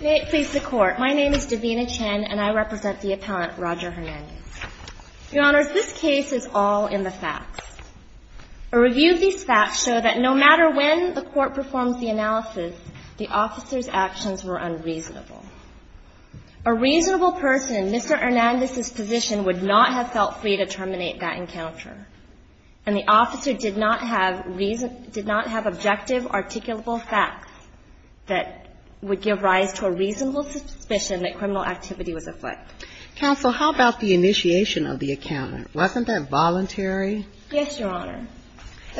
May it please the Court, my name is Davina Chen and I represent the appellant Roger Hernandez. Your Honor, this case is all in the facts. A review of these facts show that no matter when the Court performs the analysis, the officer's actions were unreasonable. A reasonable person in Mr. Hernandez's position would not have felt free to terminate that encounter. And the officer did not have reason – did not have objective, articulable facts that would give rise to a reasonable suspicion that criminal activity was afoot. Counsel, how about the initiation of the encounter? Wasn't that voluntary? Yes, Your Honor.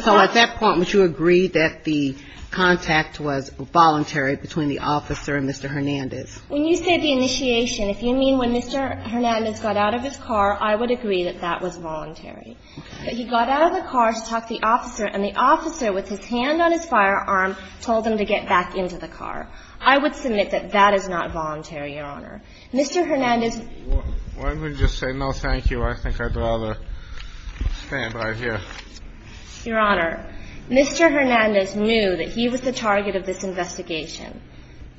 So at that point, would you agree that the contact was voluntary between the officer and Mr. Hernandez? When you say the initiation, if you mean when Mr. Hernandez got out of his car, I would agree that that was voluntary. Okay. But he got out of the car to talk to the officer and the officer, with his hand on his firearm, told him to get back into the car. I would submit that that is not voluntary, Your Honor. Mr. Hernandez – Why don't we just say no, thank you. I think I'd rather stand right here. Your Honor, Mr. Hernandez knew that he was the target of this investigation.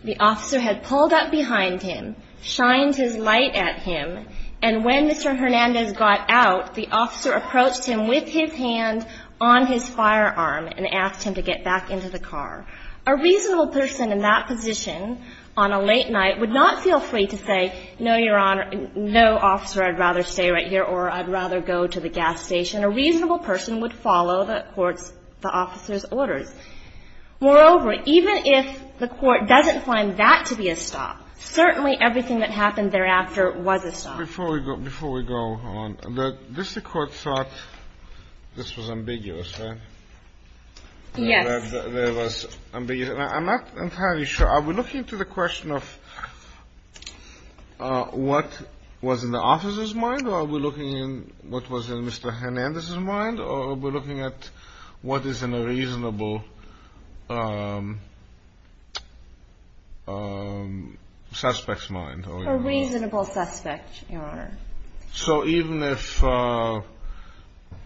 The officer had pulled up behind him, shined his light at him, and when Mr. Hernandez got out, the officer approached him with his hand on his firearm and asked him to get back into the car. A reasonable person in that position, on a late night, would not feel free to say, no, Your Honor, no, officer, I'd rather stay right here or I'd rather go to the gas station. A reasonable person would follow the officer's orders. Moreover, even if the court doesn't find that to be a stop, certainly everything that happened thereafter was a stop. Before we go on, the district court thought this was ambiguous, right? Yes. I'm not entirely sure. Are we looking to the question of what was in the officer's mind, or are we looking at what was in Mr. Hernandez's mind, or are we looking at what is in a reasonable suspect's mind? A reasonable suspect, Your Honor. So even if the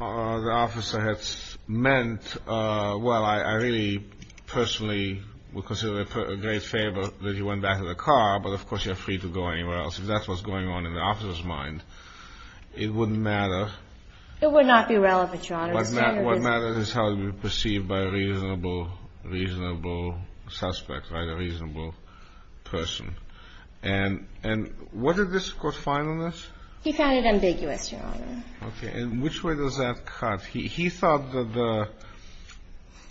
officer had meant, well, I really personally would consider it a great favor that he went back to the car, but of course you're free to go anywhere else. If that's what's going on in the officer's mind, it wouldn't matter. It would not be relevant, Your Honor. What matters is how it would be perceived by a reasonable suspect, a reasonable person. And what did the district court find in this? He found it ambiguous, Your Honor. Okay. And which way does that cut? He thought that the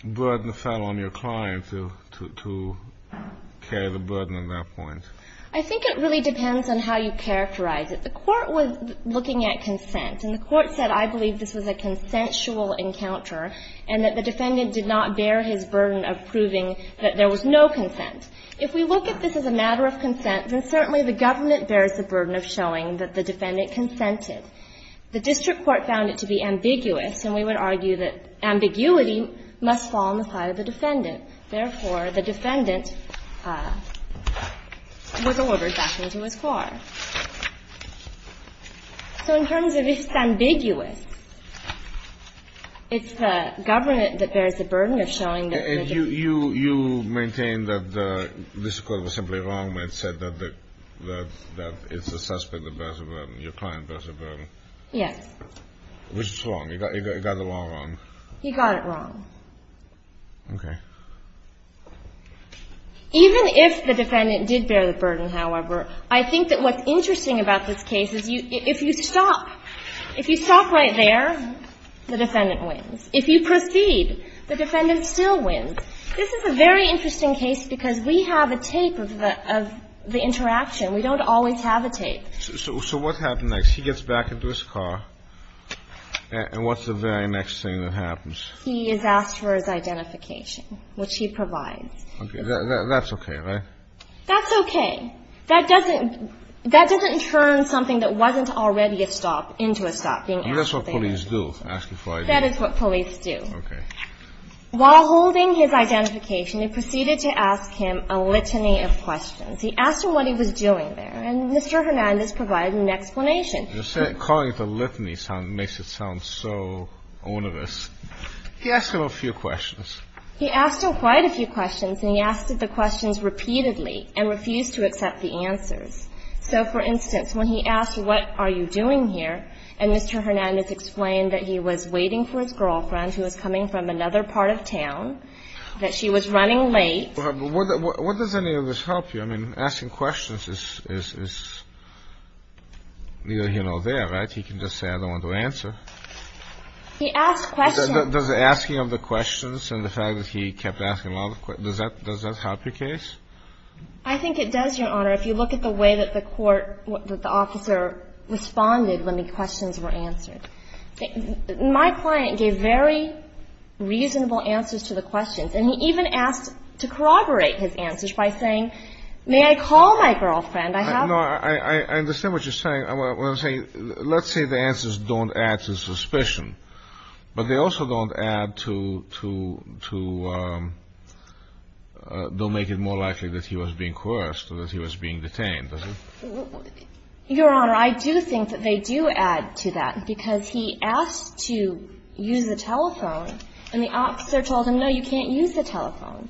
burden fell on your client to carry the burden at that point. I think it really depends on how you characterize it. The court was looking at consent, and the court said, I believe this was a consensual encounter and that the defendant did not bear his burden of proving that there was no consent. If we look at this as a matter of consent, then certainly the government bears the burden of showing that the defendant consented. The district court found it to be ambiguous, and we would argue that ambiguity must fall on the part of the defendant. Therefore, the defendant was ordered back into his car. So in terms of if it's ambiguous, it's the government that bears the burden of showing that there's a consent. You maintain that the district court was simply wrong when it said that it's the suspect that bears the burden, your client bears the burden. Yes. Which is wrong. He got the law wrong. He got it wrong. Okay. Even if the defendant did bear the burden, however, I think that what's interesting about this case is if you stop, if you stop right there, the defendant wins. If you proceed, the defendant still wins. This is a very interesting case because we have a tape of the interaction. We don't always have a tape. So what happens next? He gets back into his car, and what's the very next thing that happens? He is asked for his identification, which he provides. That's okay, right? That's okay. That doesn't turn something that wasn't already a stop into a stop. That's what police do. That is what police do. Okay. While holding his identification, they proceeded to ask him a litany of questions. He asked him what he was doing there, and Mr. Hernandez provided an explanation. Calling it a litany makes it sound so onerous. He asked him a few questions. He asked him quite a few questions, and he asked the questions repeatedly and refused to accept the answers. So, for instance, when he asked what are you doing here, and Mr. Hernandez explained that he was waiting for his girlfriend who was coming from another part of town, that she was running late. What does any of this help you? I mean, asking questions is neither here nor there, right? He can just say I don't want to answer. He asked questions. Does asking him the questions and the fact that he kept asking a lot of questions, does that help your case? I think it does, Your Honor. If you look at the way that the court, that the officer responded when the questions were answered. My client gave very reasonable answers to the questions, and he even asked to corroborate his answers by saying, may I call my girlfriend? I have her. No, I understand what you're saying. What I'm saying, let's say the answers don't add to suspicion, but they also don't add to, don't make it more likely that he was being coerced or that he was being detained, does it? Your Honor, I do think that they do add to that, because he asked to use the telephone, and the officer told him, no, you can't use the telephone.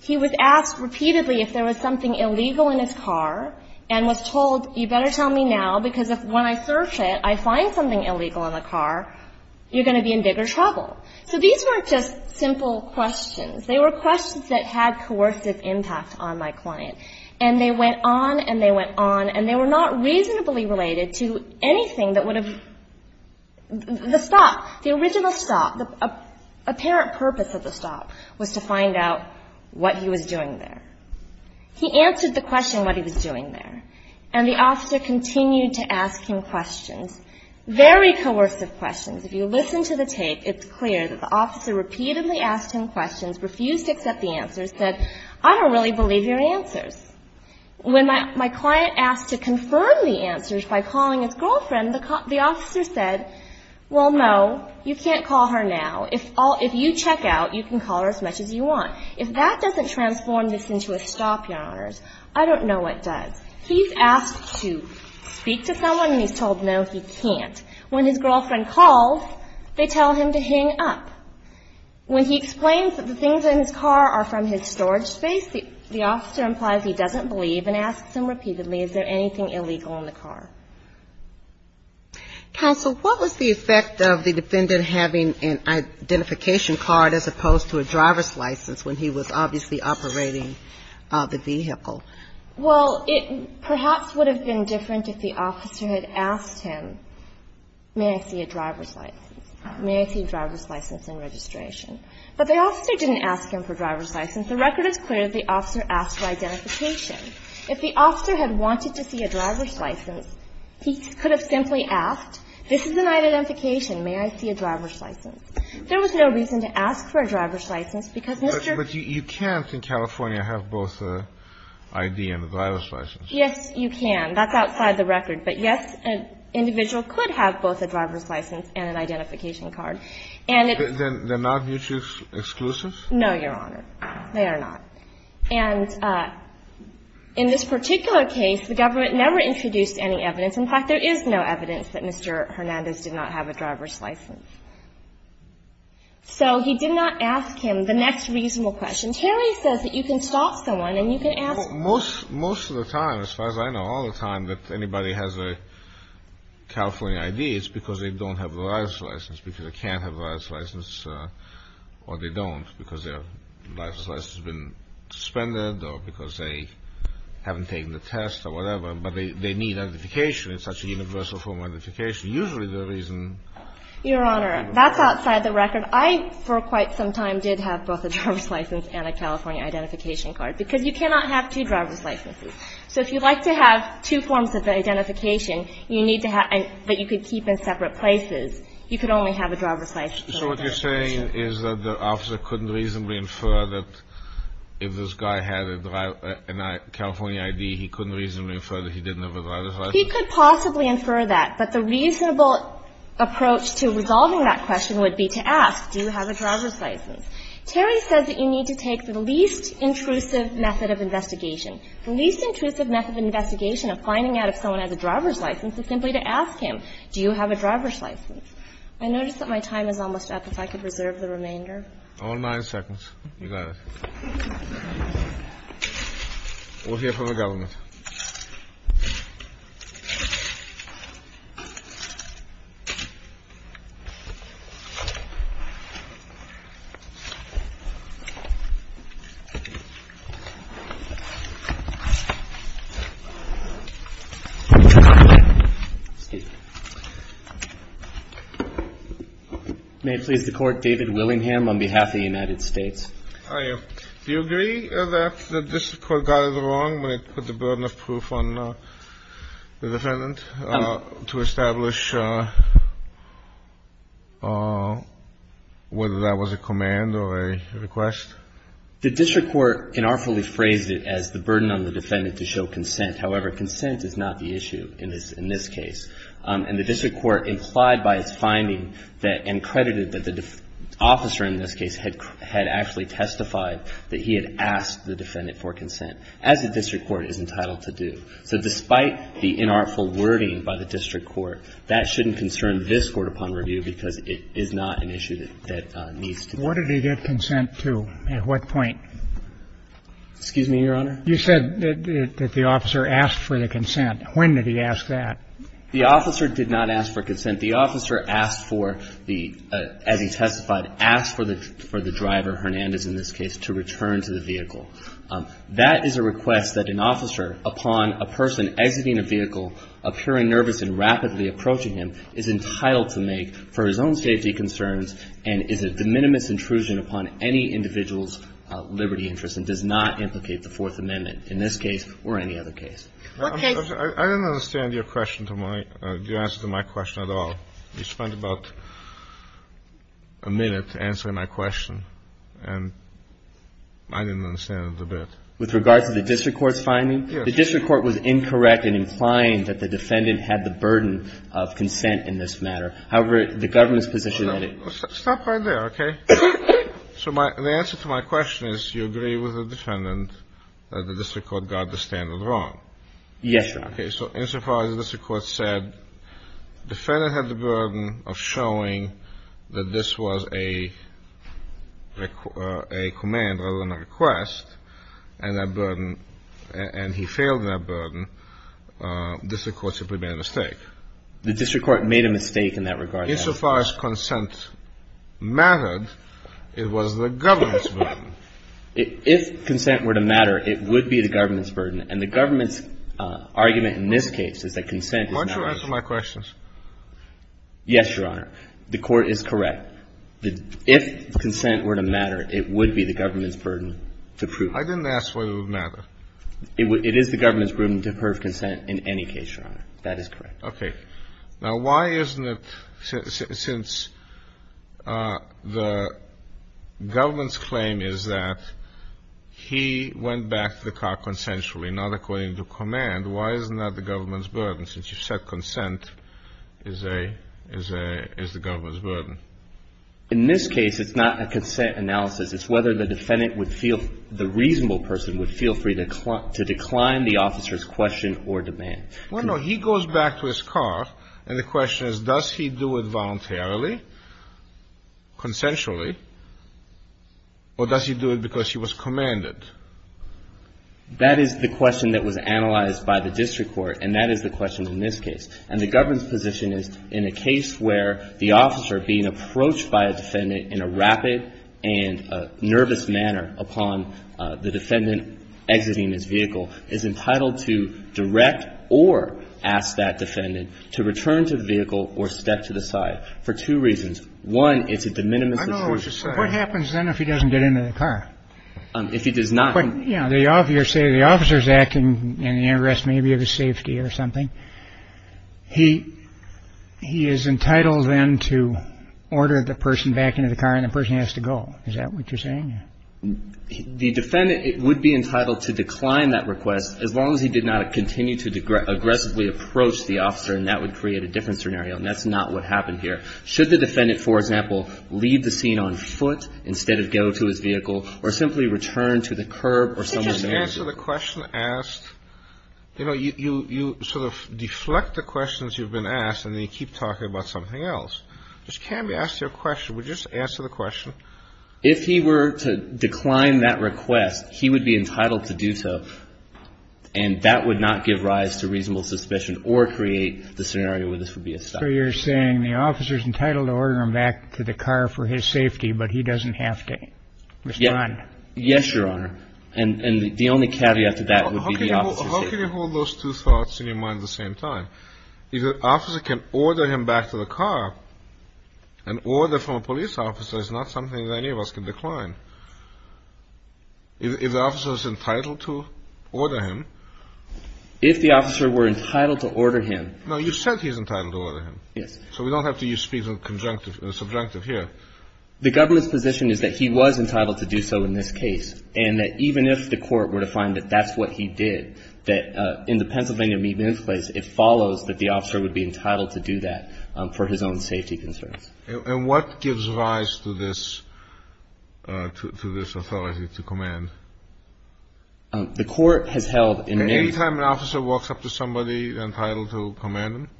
He was asked repeatedly if there was something illegal in his car, and was told, you better tell me now, because when I search it, I find something illegal in the car, you're going to be in bigger trouble. So these weren't just simple questions. They were questions that had coercive impact on my client, and they went on and they went on, and they were not reasonably related to anything that would have, the stop, the original stop, the apparent purpose of the stop was to find out what he was doing there. He answered the question what he was doing there, and the officer continued to ask him questions, very coercive questions. If you listen to the tape, it's clear that the officer repeatedly asked him questions, refused to accept the answers, said, I don't really believe your answers. When my client asked to confirm the answers by calling his girlfriend, the officer said, well, no, you can't call her now. If you check out, you can call her as much as you want. If that doesn't transform this into a stop, Your Honors, I don't know what does. He's asked to speak to someone, and he's told, no, he can't. When his girlfriend called, they tell him to hang up. When he explains that the things in his car are from his storage space, the officer implies he doesn't believe and asks him repeatedly, is there anything illegal in the car? Counsel, what was the effect of the defendant having an identification card as opposed to a driver's license when he was obviously operating the vehicle? Well, it perhaps would have been different if the officer had asked him, may I see a driver's license, may I see a driver's license in registration. But the officer didn't ask him for a driver's license. The record is clear that the officer asked for identification. If the officer had wanted to see a driver's license, he could have simply asked, this is an identification, may I see a driver's license. There was no reason to ask for a driver's license because Mr. ---- But you can't in California have both an ID and a driver's license. Yes, you can. That's outside the record. But, yes, an individual could have both a driver's license and an identification card. And it's ---- They're not mutually exclusive? No, Your Honor. They are not. And in this particular case, the government never introduced any evidence. In fact, there is no evidence that Mr. Hernandez did not have a driver's license. So he did not ask him the next reasonable question. Terry says that you can stop someone and you can ask ---- Most of the time, as far as I know, all the time that anybody has a California ID, it's because they don't have a driver's license, because they can't have a driver's license, or they don't, because their driver's license has been suspended or because they haven't taken the test or whatever. But they need identification. It's such a universal form of identification. It's usually the reason ---- Your Honor, that's outside the record. I, for quite some time, did have both a driver's license and a California identification card, because you cannot have two driver's licenses. So if you'd like to have two forms of identification that you could keep in separate places, you could only have a driver's license. So what you're saying is that the officer couldn't reasonably infer that if this guy had a California ID, he couldn't reasonably infer that he didn't have a driver's license? He could possibly infer that. But the reasonable approach to resolving that question would be to ask, do you have a driver's license? Terry says that you need to take the least intrusive method of investigation. The least intrusive method of investigation of finding out if someone has a driver's license is simply to ask him, do you have a driver's license? I notice that my time is almost up, if I could reserve the remainder. All nine seconds. You got it. We'll hear from the government. May it please the Court, David Willingham on behalf of the United States. Do you agree that the district court got it wrong when it put the burden of proof on the defendant to establish whether that was a command or a request? The district court unartfully phrased it as the burden on the defendant to show consent. However, consent is not the issue in this case. And the district court implied by its finding that and credited that the officer in this case had actually testified that he had asked the defendant for consent, as the district court is entitled to do. So despite the inartful wording by the district court, that shouldn't concern this Court upon review because it is not an issue that needs to be. Where did he get consent to? At what point? Excuse me, Your Honor? You said that the officer asked for the consent. When did he ask that? The officer did not ask for consent. The officer asked for the, as he testified, asked for the driver, Hernandez in this case, to return to the vehicle. That is a request that an officer, upon a person exiting a vehicle, appearing nervous and rapidly approaching him, is entitled to make for his own safety concerns and is a de minimis intrusion upon any individual's liberty interest and does not implicate the Fourth Amendment in this case or any other case. I didn't understand your question to my – your answer to my question at all. You spent about a minute answering my question, and I didn't understand it a bit. With regard to the district court's finding? Yes. The district court was incorrect in implying that the defendant had the burden of consent in this matter. However, the government's position that it – Stop right there, okay? So my – the answer to my question is you agree with the defendant that the district court got the standard wrong. Yes, Your Honor. Okay. So insofar as the district court said the defendant had the burden of showing that this was a command rather than a request and that burden – and he failed in that burden, the district court simply made a mistake. The district court made a mistake in that regard. Insofar as consent mattered, it was the government's burden. If consent were to matter, it would be the government's burden. And the government's argument in this case is that consent is not the issue. Why don't you answer my questions? Yes, Your Honor. The court is correct. If consent were to matter, it would be the government's burden to prove it. I didn't ask whether it would matter. It is the government's burden to prove consent in any case, Your Honor. That is correct. Now, why isn't it – since the government's claim is that he went back to the car consensually, not according to command, why isn't that the government's burden since you said consent is the government's burden? In this case, it's not a consent analysis. It's whether the defendant would feel – the reasonable person would feel free to decline the officer's question or demand. Well, no. He goes back to his car, and the question is does he do it voluntarily, consensually, or does he do it because he was commanded? That is the question that was analyzed by the district court, and that is the question in this case. And the government's position is in a case where the officer being approached by a defendant in a rapid and nervous manner upon the defendant exiting his vehicle is entitled to direct or ask that defendant to return to the vehicle or step to the side for two reasons. One, it's a de minimis. I know what you're saying. What happens then if he doesn't get into the car? If he does not – But, you know, the officer – say the officer is acting in the interest maybe of his safety or something. He is entitled then to order the person back into the car, and the person has to go. Is that what you're saying? The defendant would be entitled to decline that request as long as he did not continue to aggressively approach the officer, and that would create a different scenario. And that's not what happened here. Should the defendant, for example, leave the scene on foot instead of go to his vehicle or simply return to the curb or something? Would you just answer the question asked – you know, you sort of deflect the questions you've been asked, and then you keep talking about something else. Just can we ask you a question? Would you just answer the question? If he were to decline that request, he would be entitled to do so, and that would not give rise to reasonable suspicion or create the scenario where this would be a stop. So you're saying the officer is entitled to order him back to the car for his safety, but he doesn't have to respond? Yes, Your Honor. And the only caveat to that would be the officer's safety. How can you hold those two thoughts in your mind at the same time? If the officer can order him back to the car, an order from a police officer is not something that any of us can decline. If the officer is entitled to order him – If the officer were entitled to order him – No, you said he's entitled to order him. Yes. So we don't have to use speech and subjunctive here. The government's position is that he was entitled to do so in this case, and that even if the court were to find that that's what he did, that in the Pennsylvania Meet-and-Ask Place, it follows that the officer would be entitled to do that for his own safety concerns. And what gives rise to this authority to command? The court has held in many – Any time an officer walks up to somebody, they're entitled to command them?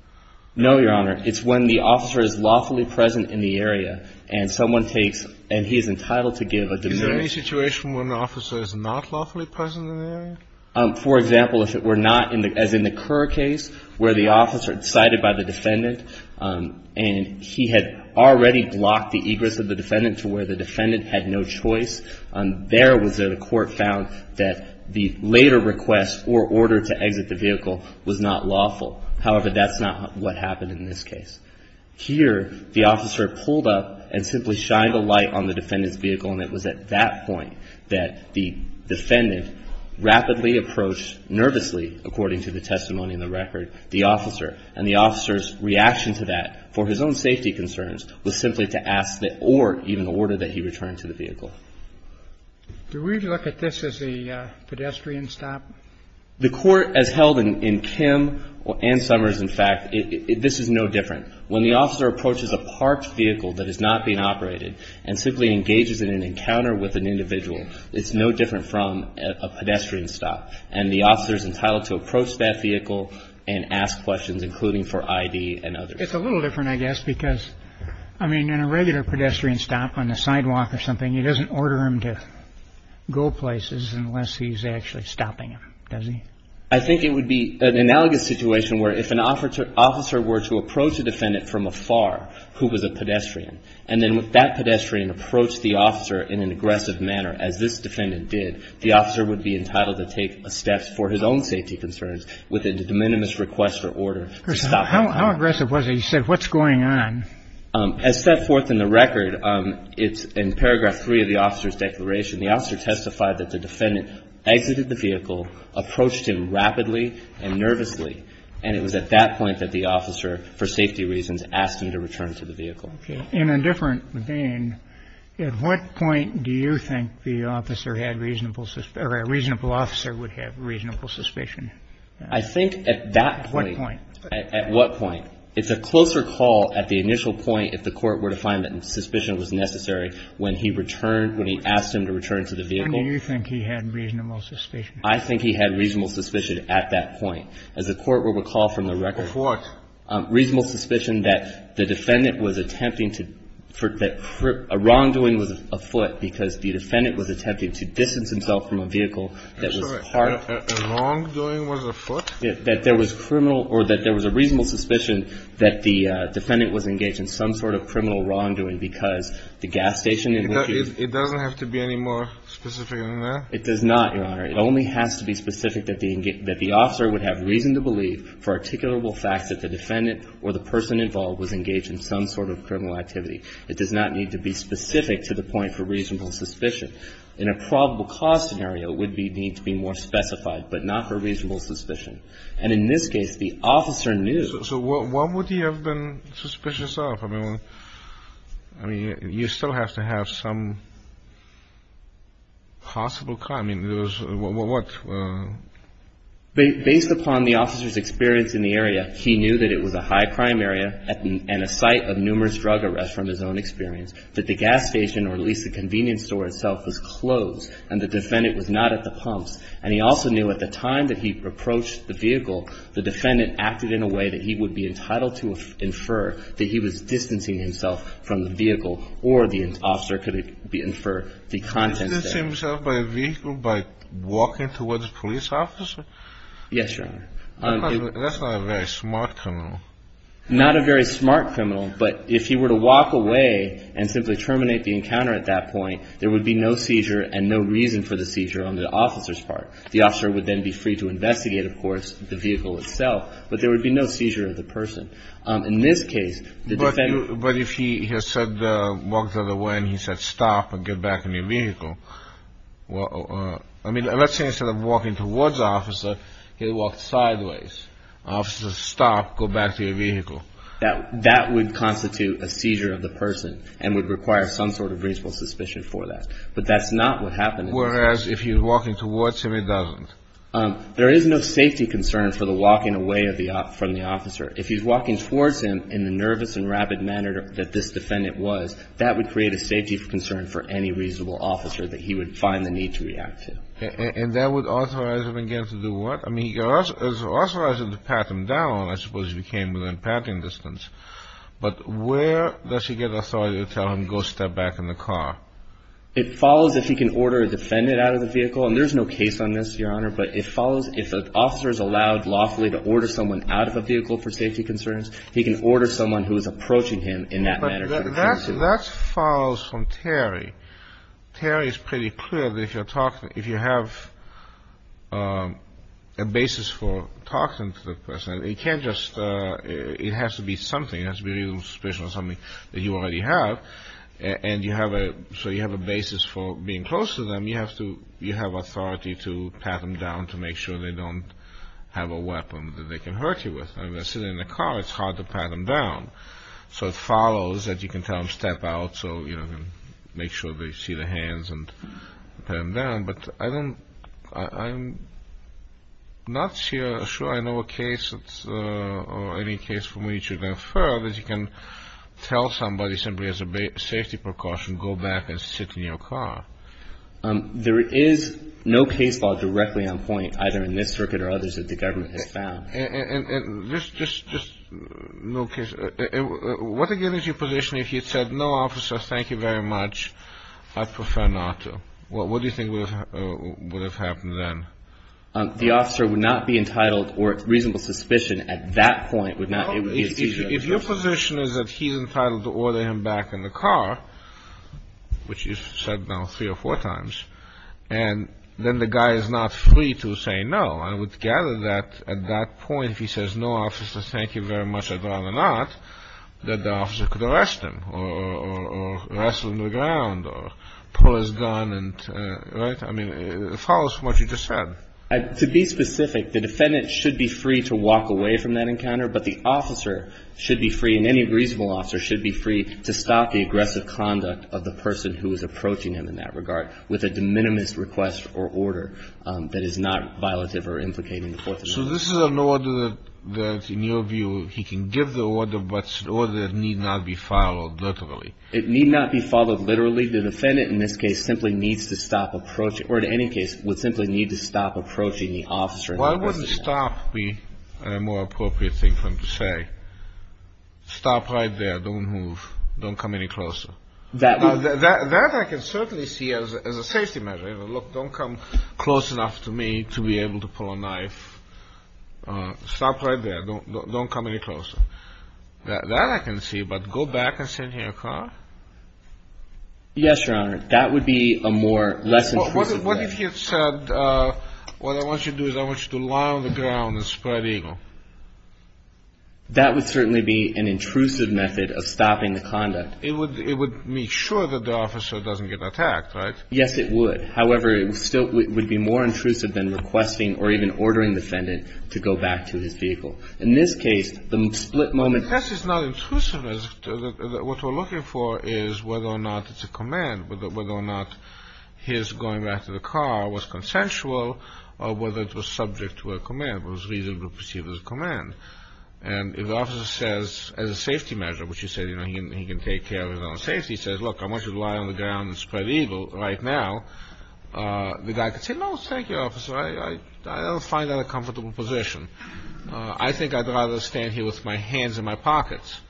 No, Your Honor. It's when the officer is lawfully present in the area and someone takes – and he is entitled to give a – Is there any situation when an officer is not lawfully present in the area? For example, if it were not, as in the Kerr case, where the officer is cited by the defendant and he had already blocked the egress of the defendant to where the defendant had no choice, there was a court found that the later request or order to exit the vehicle was not lawful. However, that's not what happened in this case. Here, the officer pulled up and simply shined a light on the defendant's vehicle, and it was at that point that the defendant rapidly approached, nervously, according to the testimony in the record, the officer. And the officer's reaction to that, for his own safety concerns, was simply to ask or even order that he return to the vehicle. Do we look at this as a pedestrian stop? The court has held in Kim and Summers, in fact, this is no different. When the officer approaches a parked vehicle that is not being operated and simply engages in an encounter with an individual, it's no different from a pedestrian stop. And the officer is entitled to approach that vehicle and ask questions, including for I.D. and others. It's a little different, I guess, because, I mean, in a regular pedestrian stop on the sidewalk or something, he doesn't order him to go places unless he's actually stopping him, does he? I think it would be an analogous situation where if an officer were to approach a defendant from afar, who was a pedestrian, and then that pedestrian approached the officer in an aggressive manner, as this defendant did, the officer would be entitled to take steps for his own safety concerns with a de minimis request or order to stop him. How aggressive was he? He said, what's going on? As set forth in the record, it's in paragraph 3 of the officer's declaration, the officer testified that the defendant exited the vehicle, approached him rapidly and nervously, and it was at that point that the officer, for safety reasons, asked him to return to the vehicle. Okay. In a different vein, at what point do you think the officer had reasonable or a reasonable officer would have reasonable suspicion? I think at that point. At what point? At what point? It's a closer call at the initial point if the Court were to find that suspicion was necessary when he returned, when he asked him to return to the vehicle. When do you think he had reasonable suspicion? I think he had reasonable suspicion at that point. As the Court will recall from the record. Of what? Reasonable suspicion that the defendant was attempting to – that a wrongdoing was afoot because the defendant was attempting to distance himself from a vehicle that was parked. I'm sorry. A wrongdoing was afoot? That there was a reasonable suspicion that the defendant was engaged in some sort of criminal wrongdoing because the gas station in which he – It doesn't have to be any more specific than that? It does not, Your Honor. It only has to be specific that the officer would have reason to believe for articulable facts that the defendant or the person involved was engaged in some sort of criminal activity. It does not need to be specific to the point for reasonable suspicion. In a probable cause scenario, it would need to be more specified, but not for reasonable suspicion. And in this case, the officer knew. So what would he have been suspicious of? I mean, you still have to have some possible – I mean, there was – what? Based upon the officer's experience in the area, he knew that it was a high-crime area and a site of numerous drug arrests from his own experience, that the gas station or at least the convenience store itself was closed and the defendant was not at the pumps. And he also knew at the time that he approached the vehicle, the defendant acted in a way that he would be entitled to infer that he was distancing himself from the vehicle or the officer could infer the contents there. Did he distance himself by vehicle, by walking towards the police officer? Yes, Your Honor. That's not a very smart criminal. Not a very smart criminal. But if he were to walk away and simply terminate the encounter at that point, there would be no seizure and no reason for the seizure on the officer's part. The officer would then be free to investigate, of course, the vehicle itself. But there would be no seizure of the person. In this case, the defendant – But if he had said – walked the other way and he said, stop and get back in your vehicle, I mean, let's say instead of walking towards the officer, he walked sideways. Officer, stop, go back to your vehicle. That would constitute a seizure of the person and would require some sort of reasonable suspicion for that. But that's not what happened in this case. Whereas if you're walking towards him, it doesn't? There is no safety concern for the walking away from the officer. If he's walking towards him in the nervous and rapid manner that this defendant was, that would create a safety concern for any reasonable officer that he would find the need to react to. And that would authorize him again to do what? I mean, it would authorize him to pat him down, I suppose, if he came within patting distance. But where does he get authority to tell him, go step back in the car? It follows if he can order a defendant out of the vehicle. And there's no case on this, Your Honor. But it follows if an officer is allowed lawfully to order someone out of a vehicle for safety concerns, he can order someone who is approaching him in that manner. But that follows from Terry. Terry is pretty clear that if you have a basis for talking to the person, it can't just? It has to be something. It has to be a reasonable suspicion or something that you already have. And you have a? So you have a basis for being close to them. You have authority to pat them down to make sure they don't have a weapon that they can hurt you with. I mean, they're sitting in the car. It's hard to pat them down. So it follows that you can tell them step out so you can make sure they see the hands and pat them down. But I'm not sure I know a case or any case for me to infer that you can tell somebody simply as a safety precaution, go back and sit in your car. There is no case law directly on point either in this circuit or others that the government has found. And just no case. What again is your position if you said, no, officer, thank you very much. I'd prefer not to. What do you think would have happened then? The officer would not be entitled or reasonable suspicion at that point would not? If your position is that he's entitled to order him back in the car, which you said now three or four times, and then the guy is not free to say no. I would gather that at that point, if he says no, officer, thank you very much, I'd rather not, that the officer could arrest him or wrestle him to the ground or pull his gun. Right? I mean, it follows from what you just said. To be specific, the defendant should be free to walk away from that encounter, but the officer should be free and any reasonable officer should be free to stop the aggressive conduct of the person who is approaching him in that regard with a de minimis request or order that is not violative or implicating the Fourth Amendment. So this is an order that, in your view, he can give the order, but an order that need not be followed literally. It need not be followed literally. The defendant in this case simply needs to stop approaching or in any case would simply need to stop approaching the officer. Why wouldn't stop be a more appropriate thing for him to say? Stop right there. Don't move. Don't come any closer. That I can certainly see as a safety measure. Look, don't come close enough to me to be able to pull a knife. Stop right there. Don't come any closer. That I can see, but go back and sit in your car? Yes, Your Honor. That would be a more less intrusive way. What if he had said, what I want you to do is I want you to lie on the ground and spread evil? That would certainly be an intrusive method of stopping the conduct. It would make sure that the officer doesn't get attacked, right? Yes, it would. However, it still would be more intrusive than requesting or even ordering the defendant to go back to his vehicle. In this case, the split moment. This is not intrusiveness. What we're looking for is whether or not it's a command, whether or not his going back to the car was consensual or whether it was subject to a command, was reasonably perceived as a command. And if the officer says as a safety measure, which you said he can take care of his own safety, says, look, I want you to lie on the ground and spread evil right now, the guy could say, no, thank you, officer. I don't find that a comfortable position. I think I'd rather stand here with my hands in my pockets.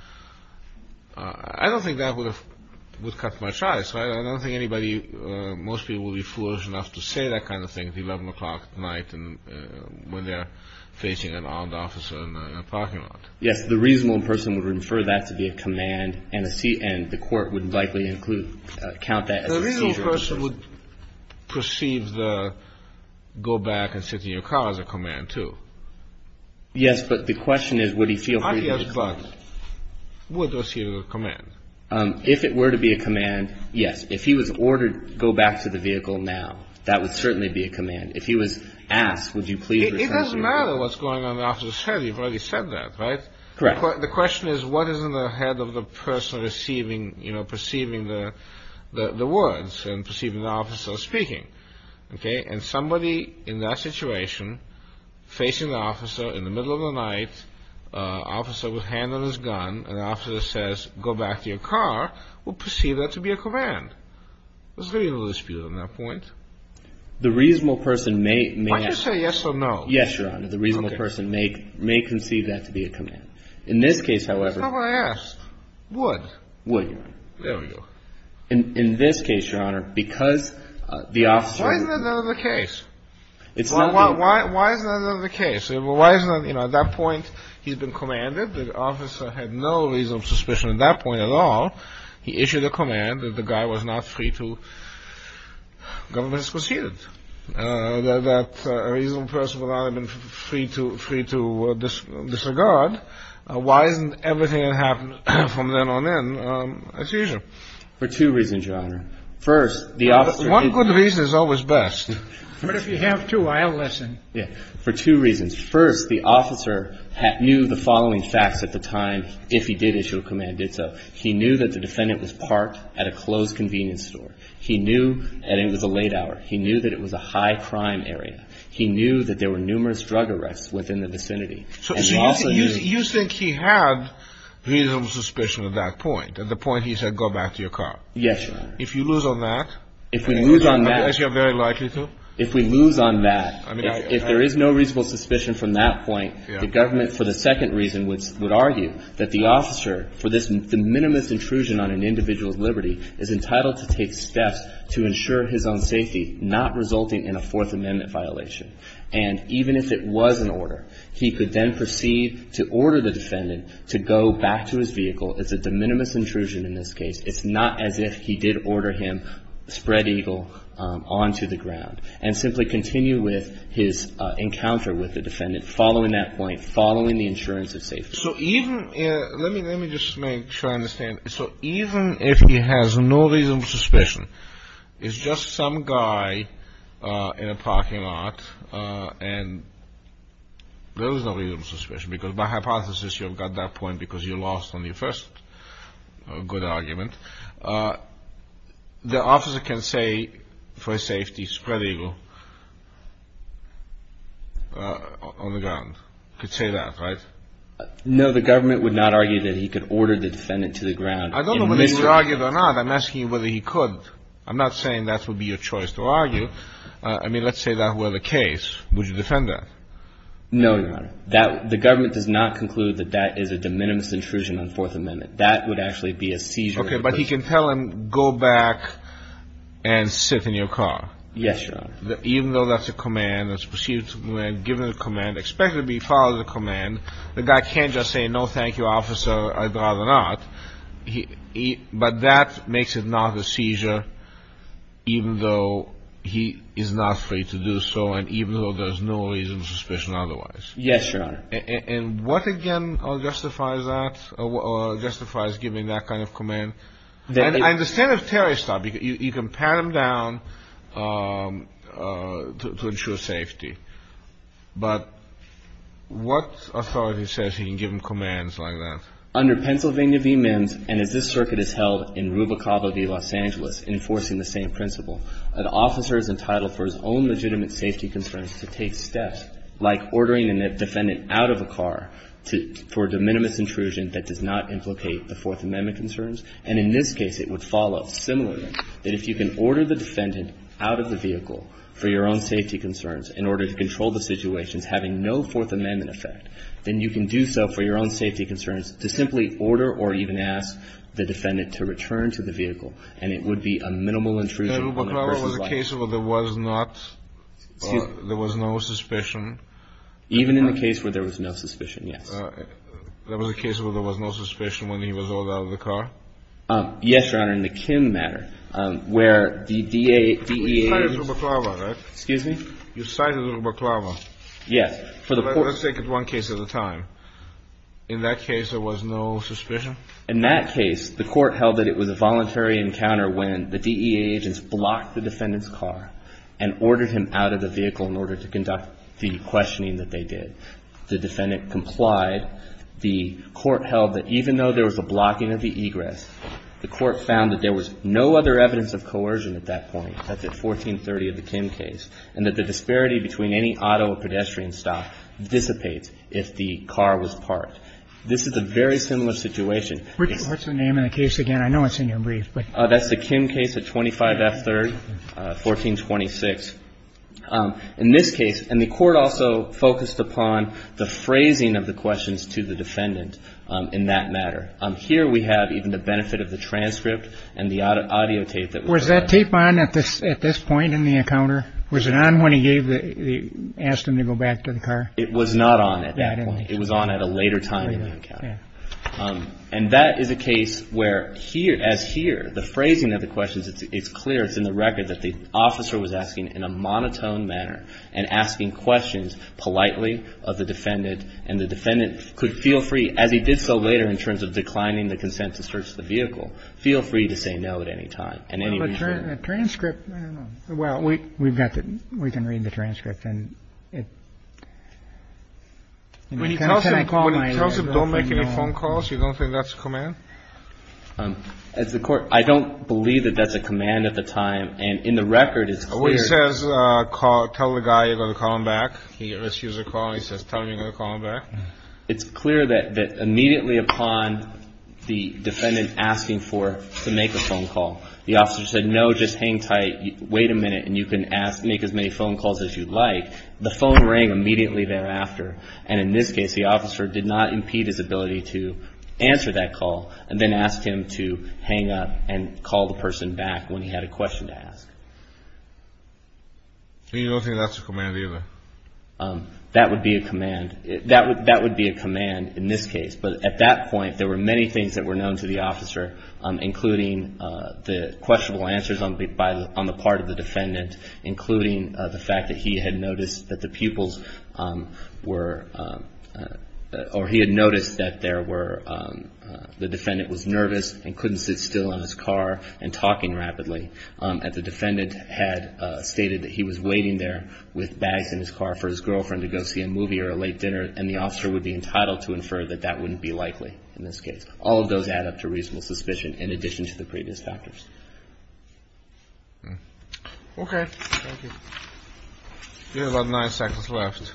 I don't think that would cut my choice. I don't think anybody, most people would be foolish enough to say that kind of thing at 11 o'clock at night when they're facing an armed officer in a parking lot. Yes, the reasonable person would refer that to be a command and the court would likely include, count that as a seizure. The reasonable person would perceive the go back and sit in your car as a command, too. Yes, but the question is would he feel free to do that? Not yes, but would receive a command. If it were to be a command, yes. If he was ordered go back to the vehicle now, that would certainly be a command. If he was asked, would you please refer to him? It doesn't matter what's going on in the officer's head. You've already said that, right? Correct. The question is what is in the head of the person receiving, you know, perceiving the words and perceiving the officer speaking, okay? And somebody in that situation facing the officer in the middle of the night, officer with hand on his gun, and the officer says go back to your car, would perceive that to be a command. There's really no dispute on that point. The reasonable person may ask. Why'd you say yes or no? Yes, Your Honor. The reasonable person may conceive that to be a command. In this case, however. That's not what I asked. Would. Would, Your Honor. There we go. In this case, Your Honor, because the officer. Why isn't that another case? It's not the. Why isn't that another case? You know, at that point he's been commanded. The officer had no reason of suspicion at that point at all. He issued a command that the guy was not free to go. This was huge. That a reasonable person would not have been free to disregard. Why isn't everything that happened from then on in a seizure? For two reasons, Your Honor. First, the officer. One good reason is always best. But if you have to, I'll listen. Yeah. For two reasons. First, the officer knew the following facts at the time, if he did issue a command, did so. He knew that the defendant was parked at a closed convenience store. He knew that it was a late hour. He knew that it was a high crime area. He knew that there were numerous drug arrests within the vicinity. So you think he had reasonable suspicion at that point? At the point he said go back to your car? Yes, Your Honor. If you lose on that. If we lose on that. As you're very likely to. If we lose on that. If there is no reasonable suspicion from that point. The government, for the second reason, would argue that the officer, for this de minimis intrusion on an individual's liberty, is entitled to take steps to ensure his own safety, not resulting in a Fourth Amendment violation. And even if it was an order, he could then proceed to order the defendant to go back to his vehicle. It's a de minimis intrusion in this case. It's not as if he did order him, spread Eagle, onto the ground. And simply continue with his encounter with the defendant following that point, following the insurance of safety. So even, let me just make sure I understand. So even if he has no reasonable suspicion, it's just some guy in a parking lot, and there is no reasonable suspicion because by hypothesis you have got that point because you lost on your first good argument. The officer can say for safety, spread Eagle, on the ground. He could say that, right? No, the government would not argue that he could order the defendant to the ground. I don't know whether he would argue it or not. I'm asking you whether he could. I'm not saying that would be your choice to argue. I mean, let's say that were the case. Would you defend that? No, Your Honor. The government does not conclude that that is a de minimis intrusion on Fourth Amendment. That would actually be a seizure. Okay, but he can tell him, go back and sit in your car. Yes, Your Honor. Even though that's a command, that's perceived to be given a command, expected to be followed a command, the guy can't just say, no, thank you, officer, I'd rather not. But that makes it not a seizure, even though he is not free to do so, and even though there's no reasonable suspicion otherwise. Yes, Your Honor. And what, again, justifies that or justifies giving that kind of command? I understand if Terry stopped, you can pat him down to ensure safety. But what authority says he can give him commands like that? Under Pennsylvania v. MIMS, and as this circuit is held in Rubicavo v. Los Angeles, enforcing the same principle, an officer is entitled for his own legitimate safety concerns to take steps, like ordering a defendant out of a car for a de minimis intrusion that does not implicate the Fourth Amendment concerns. And in this case, it would follow, similarly, that if you can order the defendant out of the vehicle for your own safety concerns in order to control the situations having no Fourth Amendment effect, then you can do so for your own safety concerns to simply order or even ask the defendant to return to the vehicle, and it would be a minimal intrusion in the person's life. Even in the case where there was no suspicion? Even in the case where there was no suspicion, yes. There was a case where there was no suspicion when he was ordered out of the car? Yes, Your Honor, in the Kim matter, where the DEA... You cited Rubicavo, right? Excuse me? You cited Rubicavo. Yes. Let's take it one case at a time. In that case, there was no suspicion? In that case, the Court held that it was a voluntary encounter when the DEA agents blocked the defendant's car and ordered him out of the vehicle in order to conduct the questioning that they did. The defendant complied. The Court held that even though there was a blocking of the egress, the Court found that there was no other evidence of coercion at that point, that's at 1430 of the Kim case, and that the disparity between any auto or pedestrian stop dissipates if the car was parked. This is a very similar situation. What's the name of the case again? I know it's in your brief, but... That's the Kim case at 25 F 3rd, 1426. In this case, and the Court also focused upon the phrasing of the questions to the defendant in that matter. Here we have even the benefit of the transcript and the audio tape that... Was that tape on at this point in the encounter? Was it on when he asked him to go back to the car? It was not on at that point. It was on at a later time in the encounter. And that is a case where here, as here, the phrasing of the questions is clear. It's in the record that the officer was asking in a monotone manner and asking questions politely of the defendant, and the defendant could feel free, as he did so later in terms of declining the consent to search the vehicle, feel free to say no at any time. But the transcript, I don't know. Well, we've got the, we can read the transcript. When he tells him don't make any phone calls, you don't think that's a command? As the Court, I don't believe that that's a command at the time. And in the record, it's clear... When he says call, tell the guy you're going to call him back, he receives a call, he says tell him you're going to call him back. It's clear that immediately upon the defendant asking for, to make a phone call, the officer said no, just hang tight, wait a minute, and you can ask, make as many phone calls as you'd like. The phone rang immediately thereafter. And in this case, the officer did not impede his ability to answer that call, and then asked him to hang up and call the person back when he had a question to ask. And you don't think that's a command either? That would be a command. That would be a command in this case. But at that point, there were many things that were known to the officer, including the questionable answers on the part of the defendant, including the fact that he had noticed that the pupils were... Or he had noticed that the defendant was nervous and couldn't sit still in his car and talking rapidly. The defendant had stated that he was waiting there with bags in his car for his girlfriend to go see a movie or a late dinner, and the officer would be entitled to infer that that wouldn't be likely in this case. All of those add up to reasonable suspicion in addition to the previous factors. Okay. Thank you. We have about nine seconds left.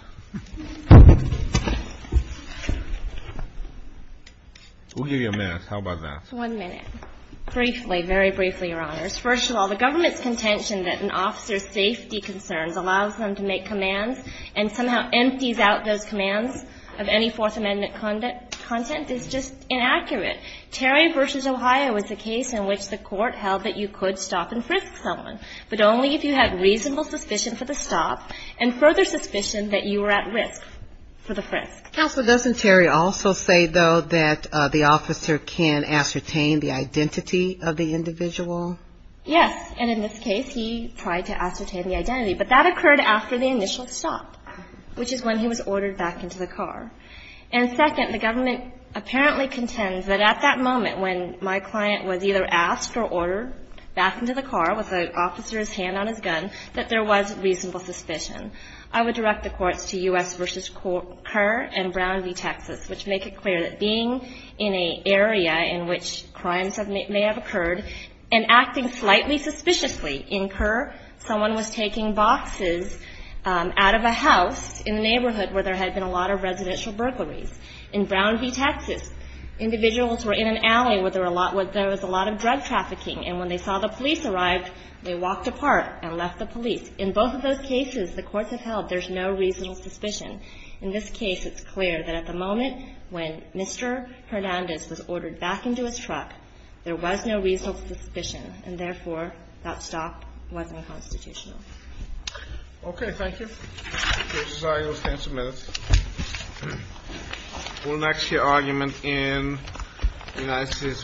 We'll give you a minute. How about that? One minute. Briefly, very briefly, Your Honors. First of all, the government's contention that an officer's safety concerns allows them to make commands and somehow empties out those commands of any Fourth Amendment content is just inaccurate. Terry v. Ohio is a case in which the court held that you could stop and frisk someone, but only if you had reasonable suspicion for the stop and further suspicion that you were at risk for the frisk. Counsel, doesn't Terry also say, though, that the officer can ascertain the identity of the individual? Yes. And in this case, he tried to ascertain the identity, but that occurred after the initial stop, which is when he was ordered back into the car. And second, the government apparently contends that at that moment, when my client was either asked or ordered back into the car with the officer's hand on his gun, that there was reasonable suspicion. I would direct the courts to U.S. v. Kerr and Brown v. Texas, which make it clear that being in an area in which crimes may have occurred and acting slightly suspiciously in Kerr, someone was taking boxes out of a house in the neighborhood where there had been a lot of residential burglaries. In Brown v. Texas, individuals were in an alley where there was a lot of drug trafficking, and when they saw the police arrived, they walked apart and left the police. In both of those cases, the courts have held there's no reasonable suspicion. In this case, it's clear that at the moment when Mr. Hernandez was ordered back into his truck, there was no reasonable suspicion, and therefore, that stop wasn't constitutional. Okay. Thank you. Judge Azar, you'll stand for a minute. We'll next hear argument in United States v. Romero.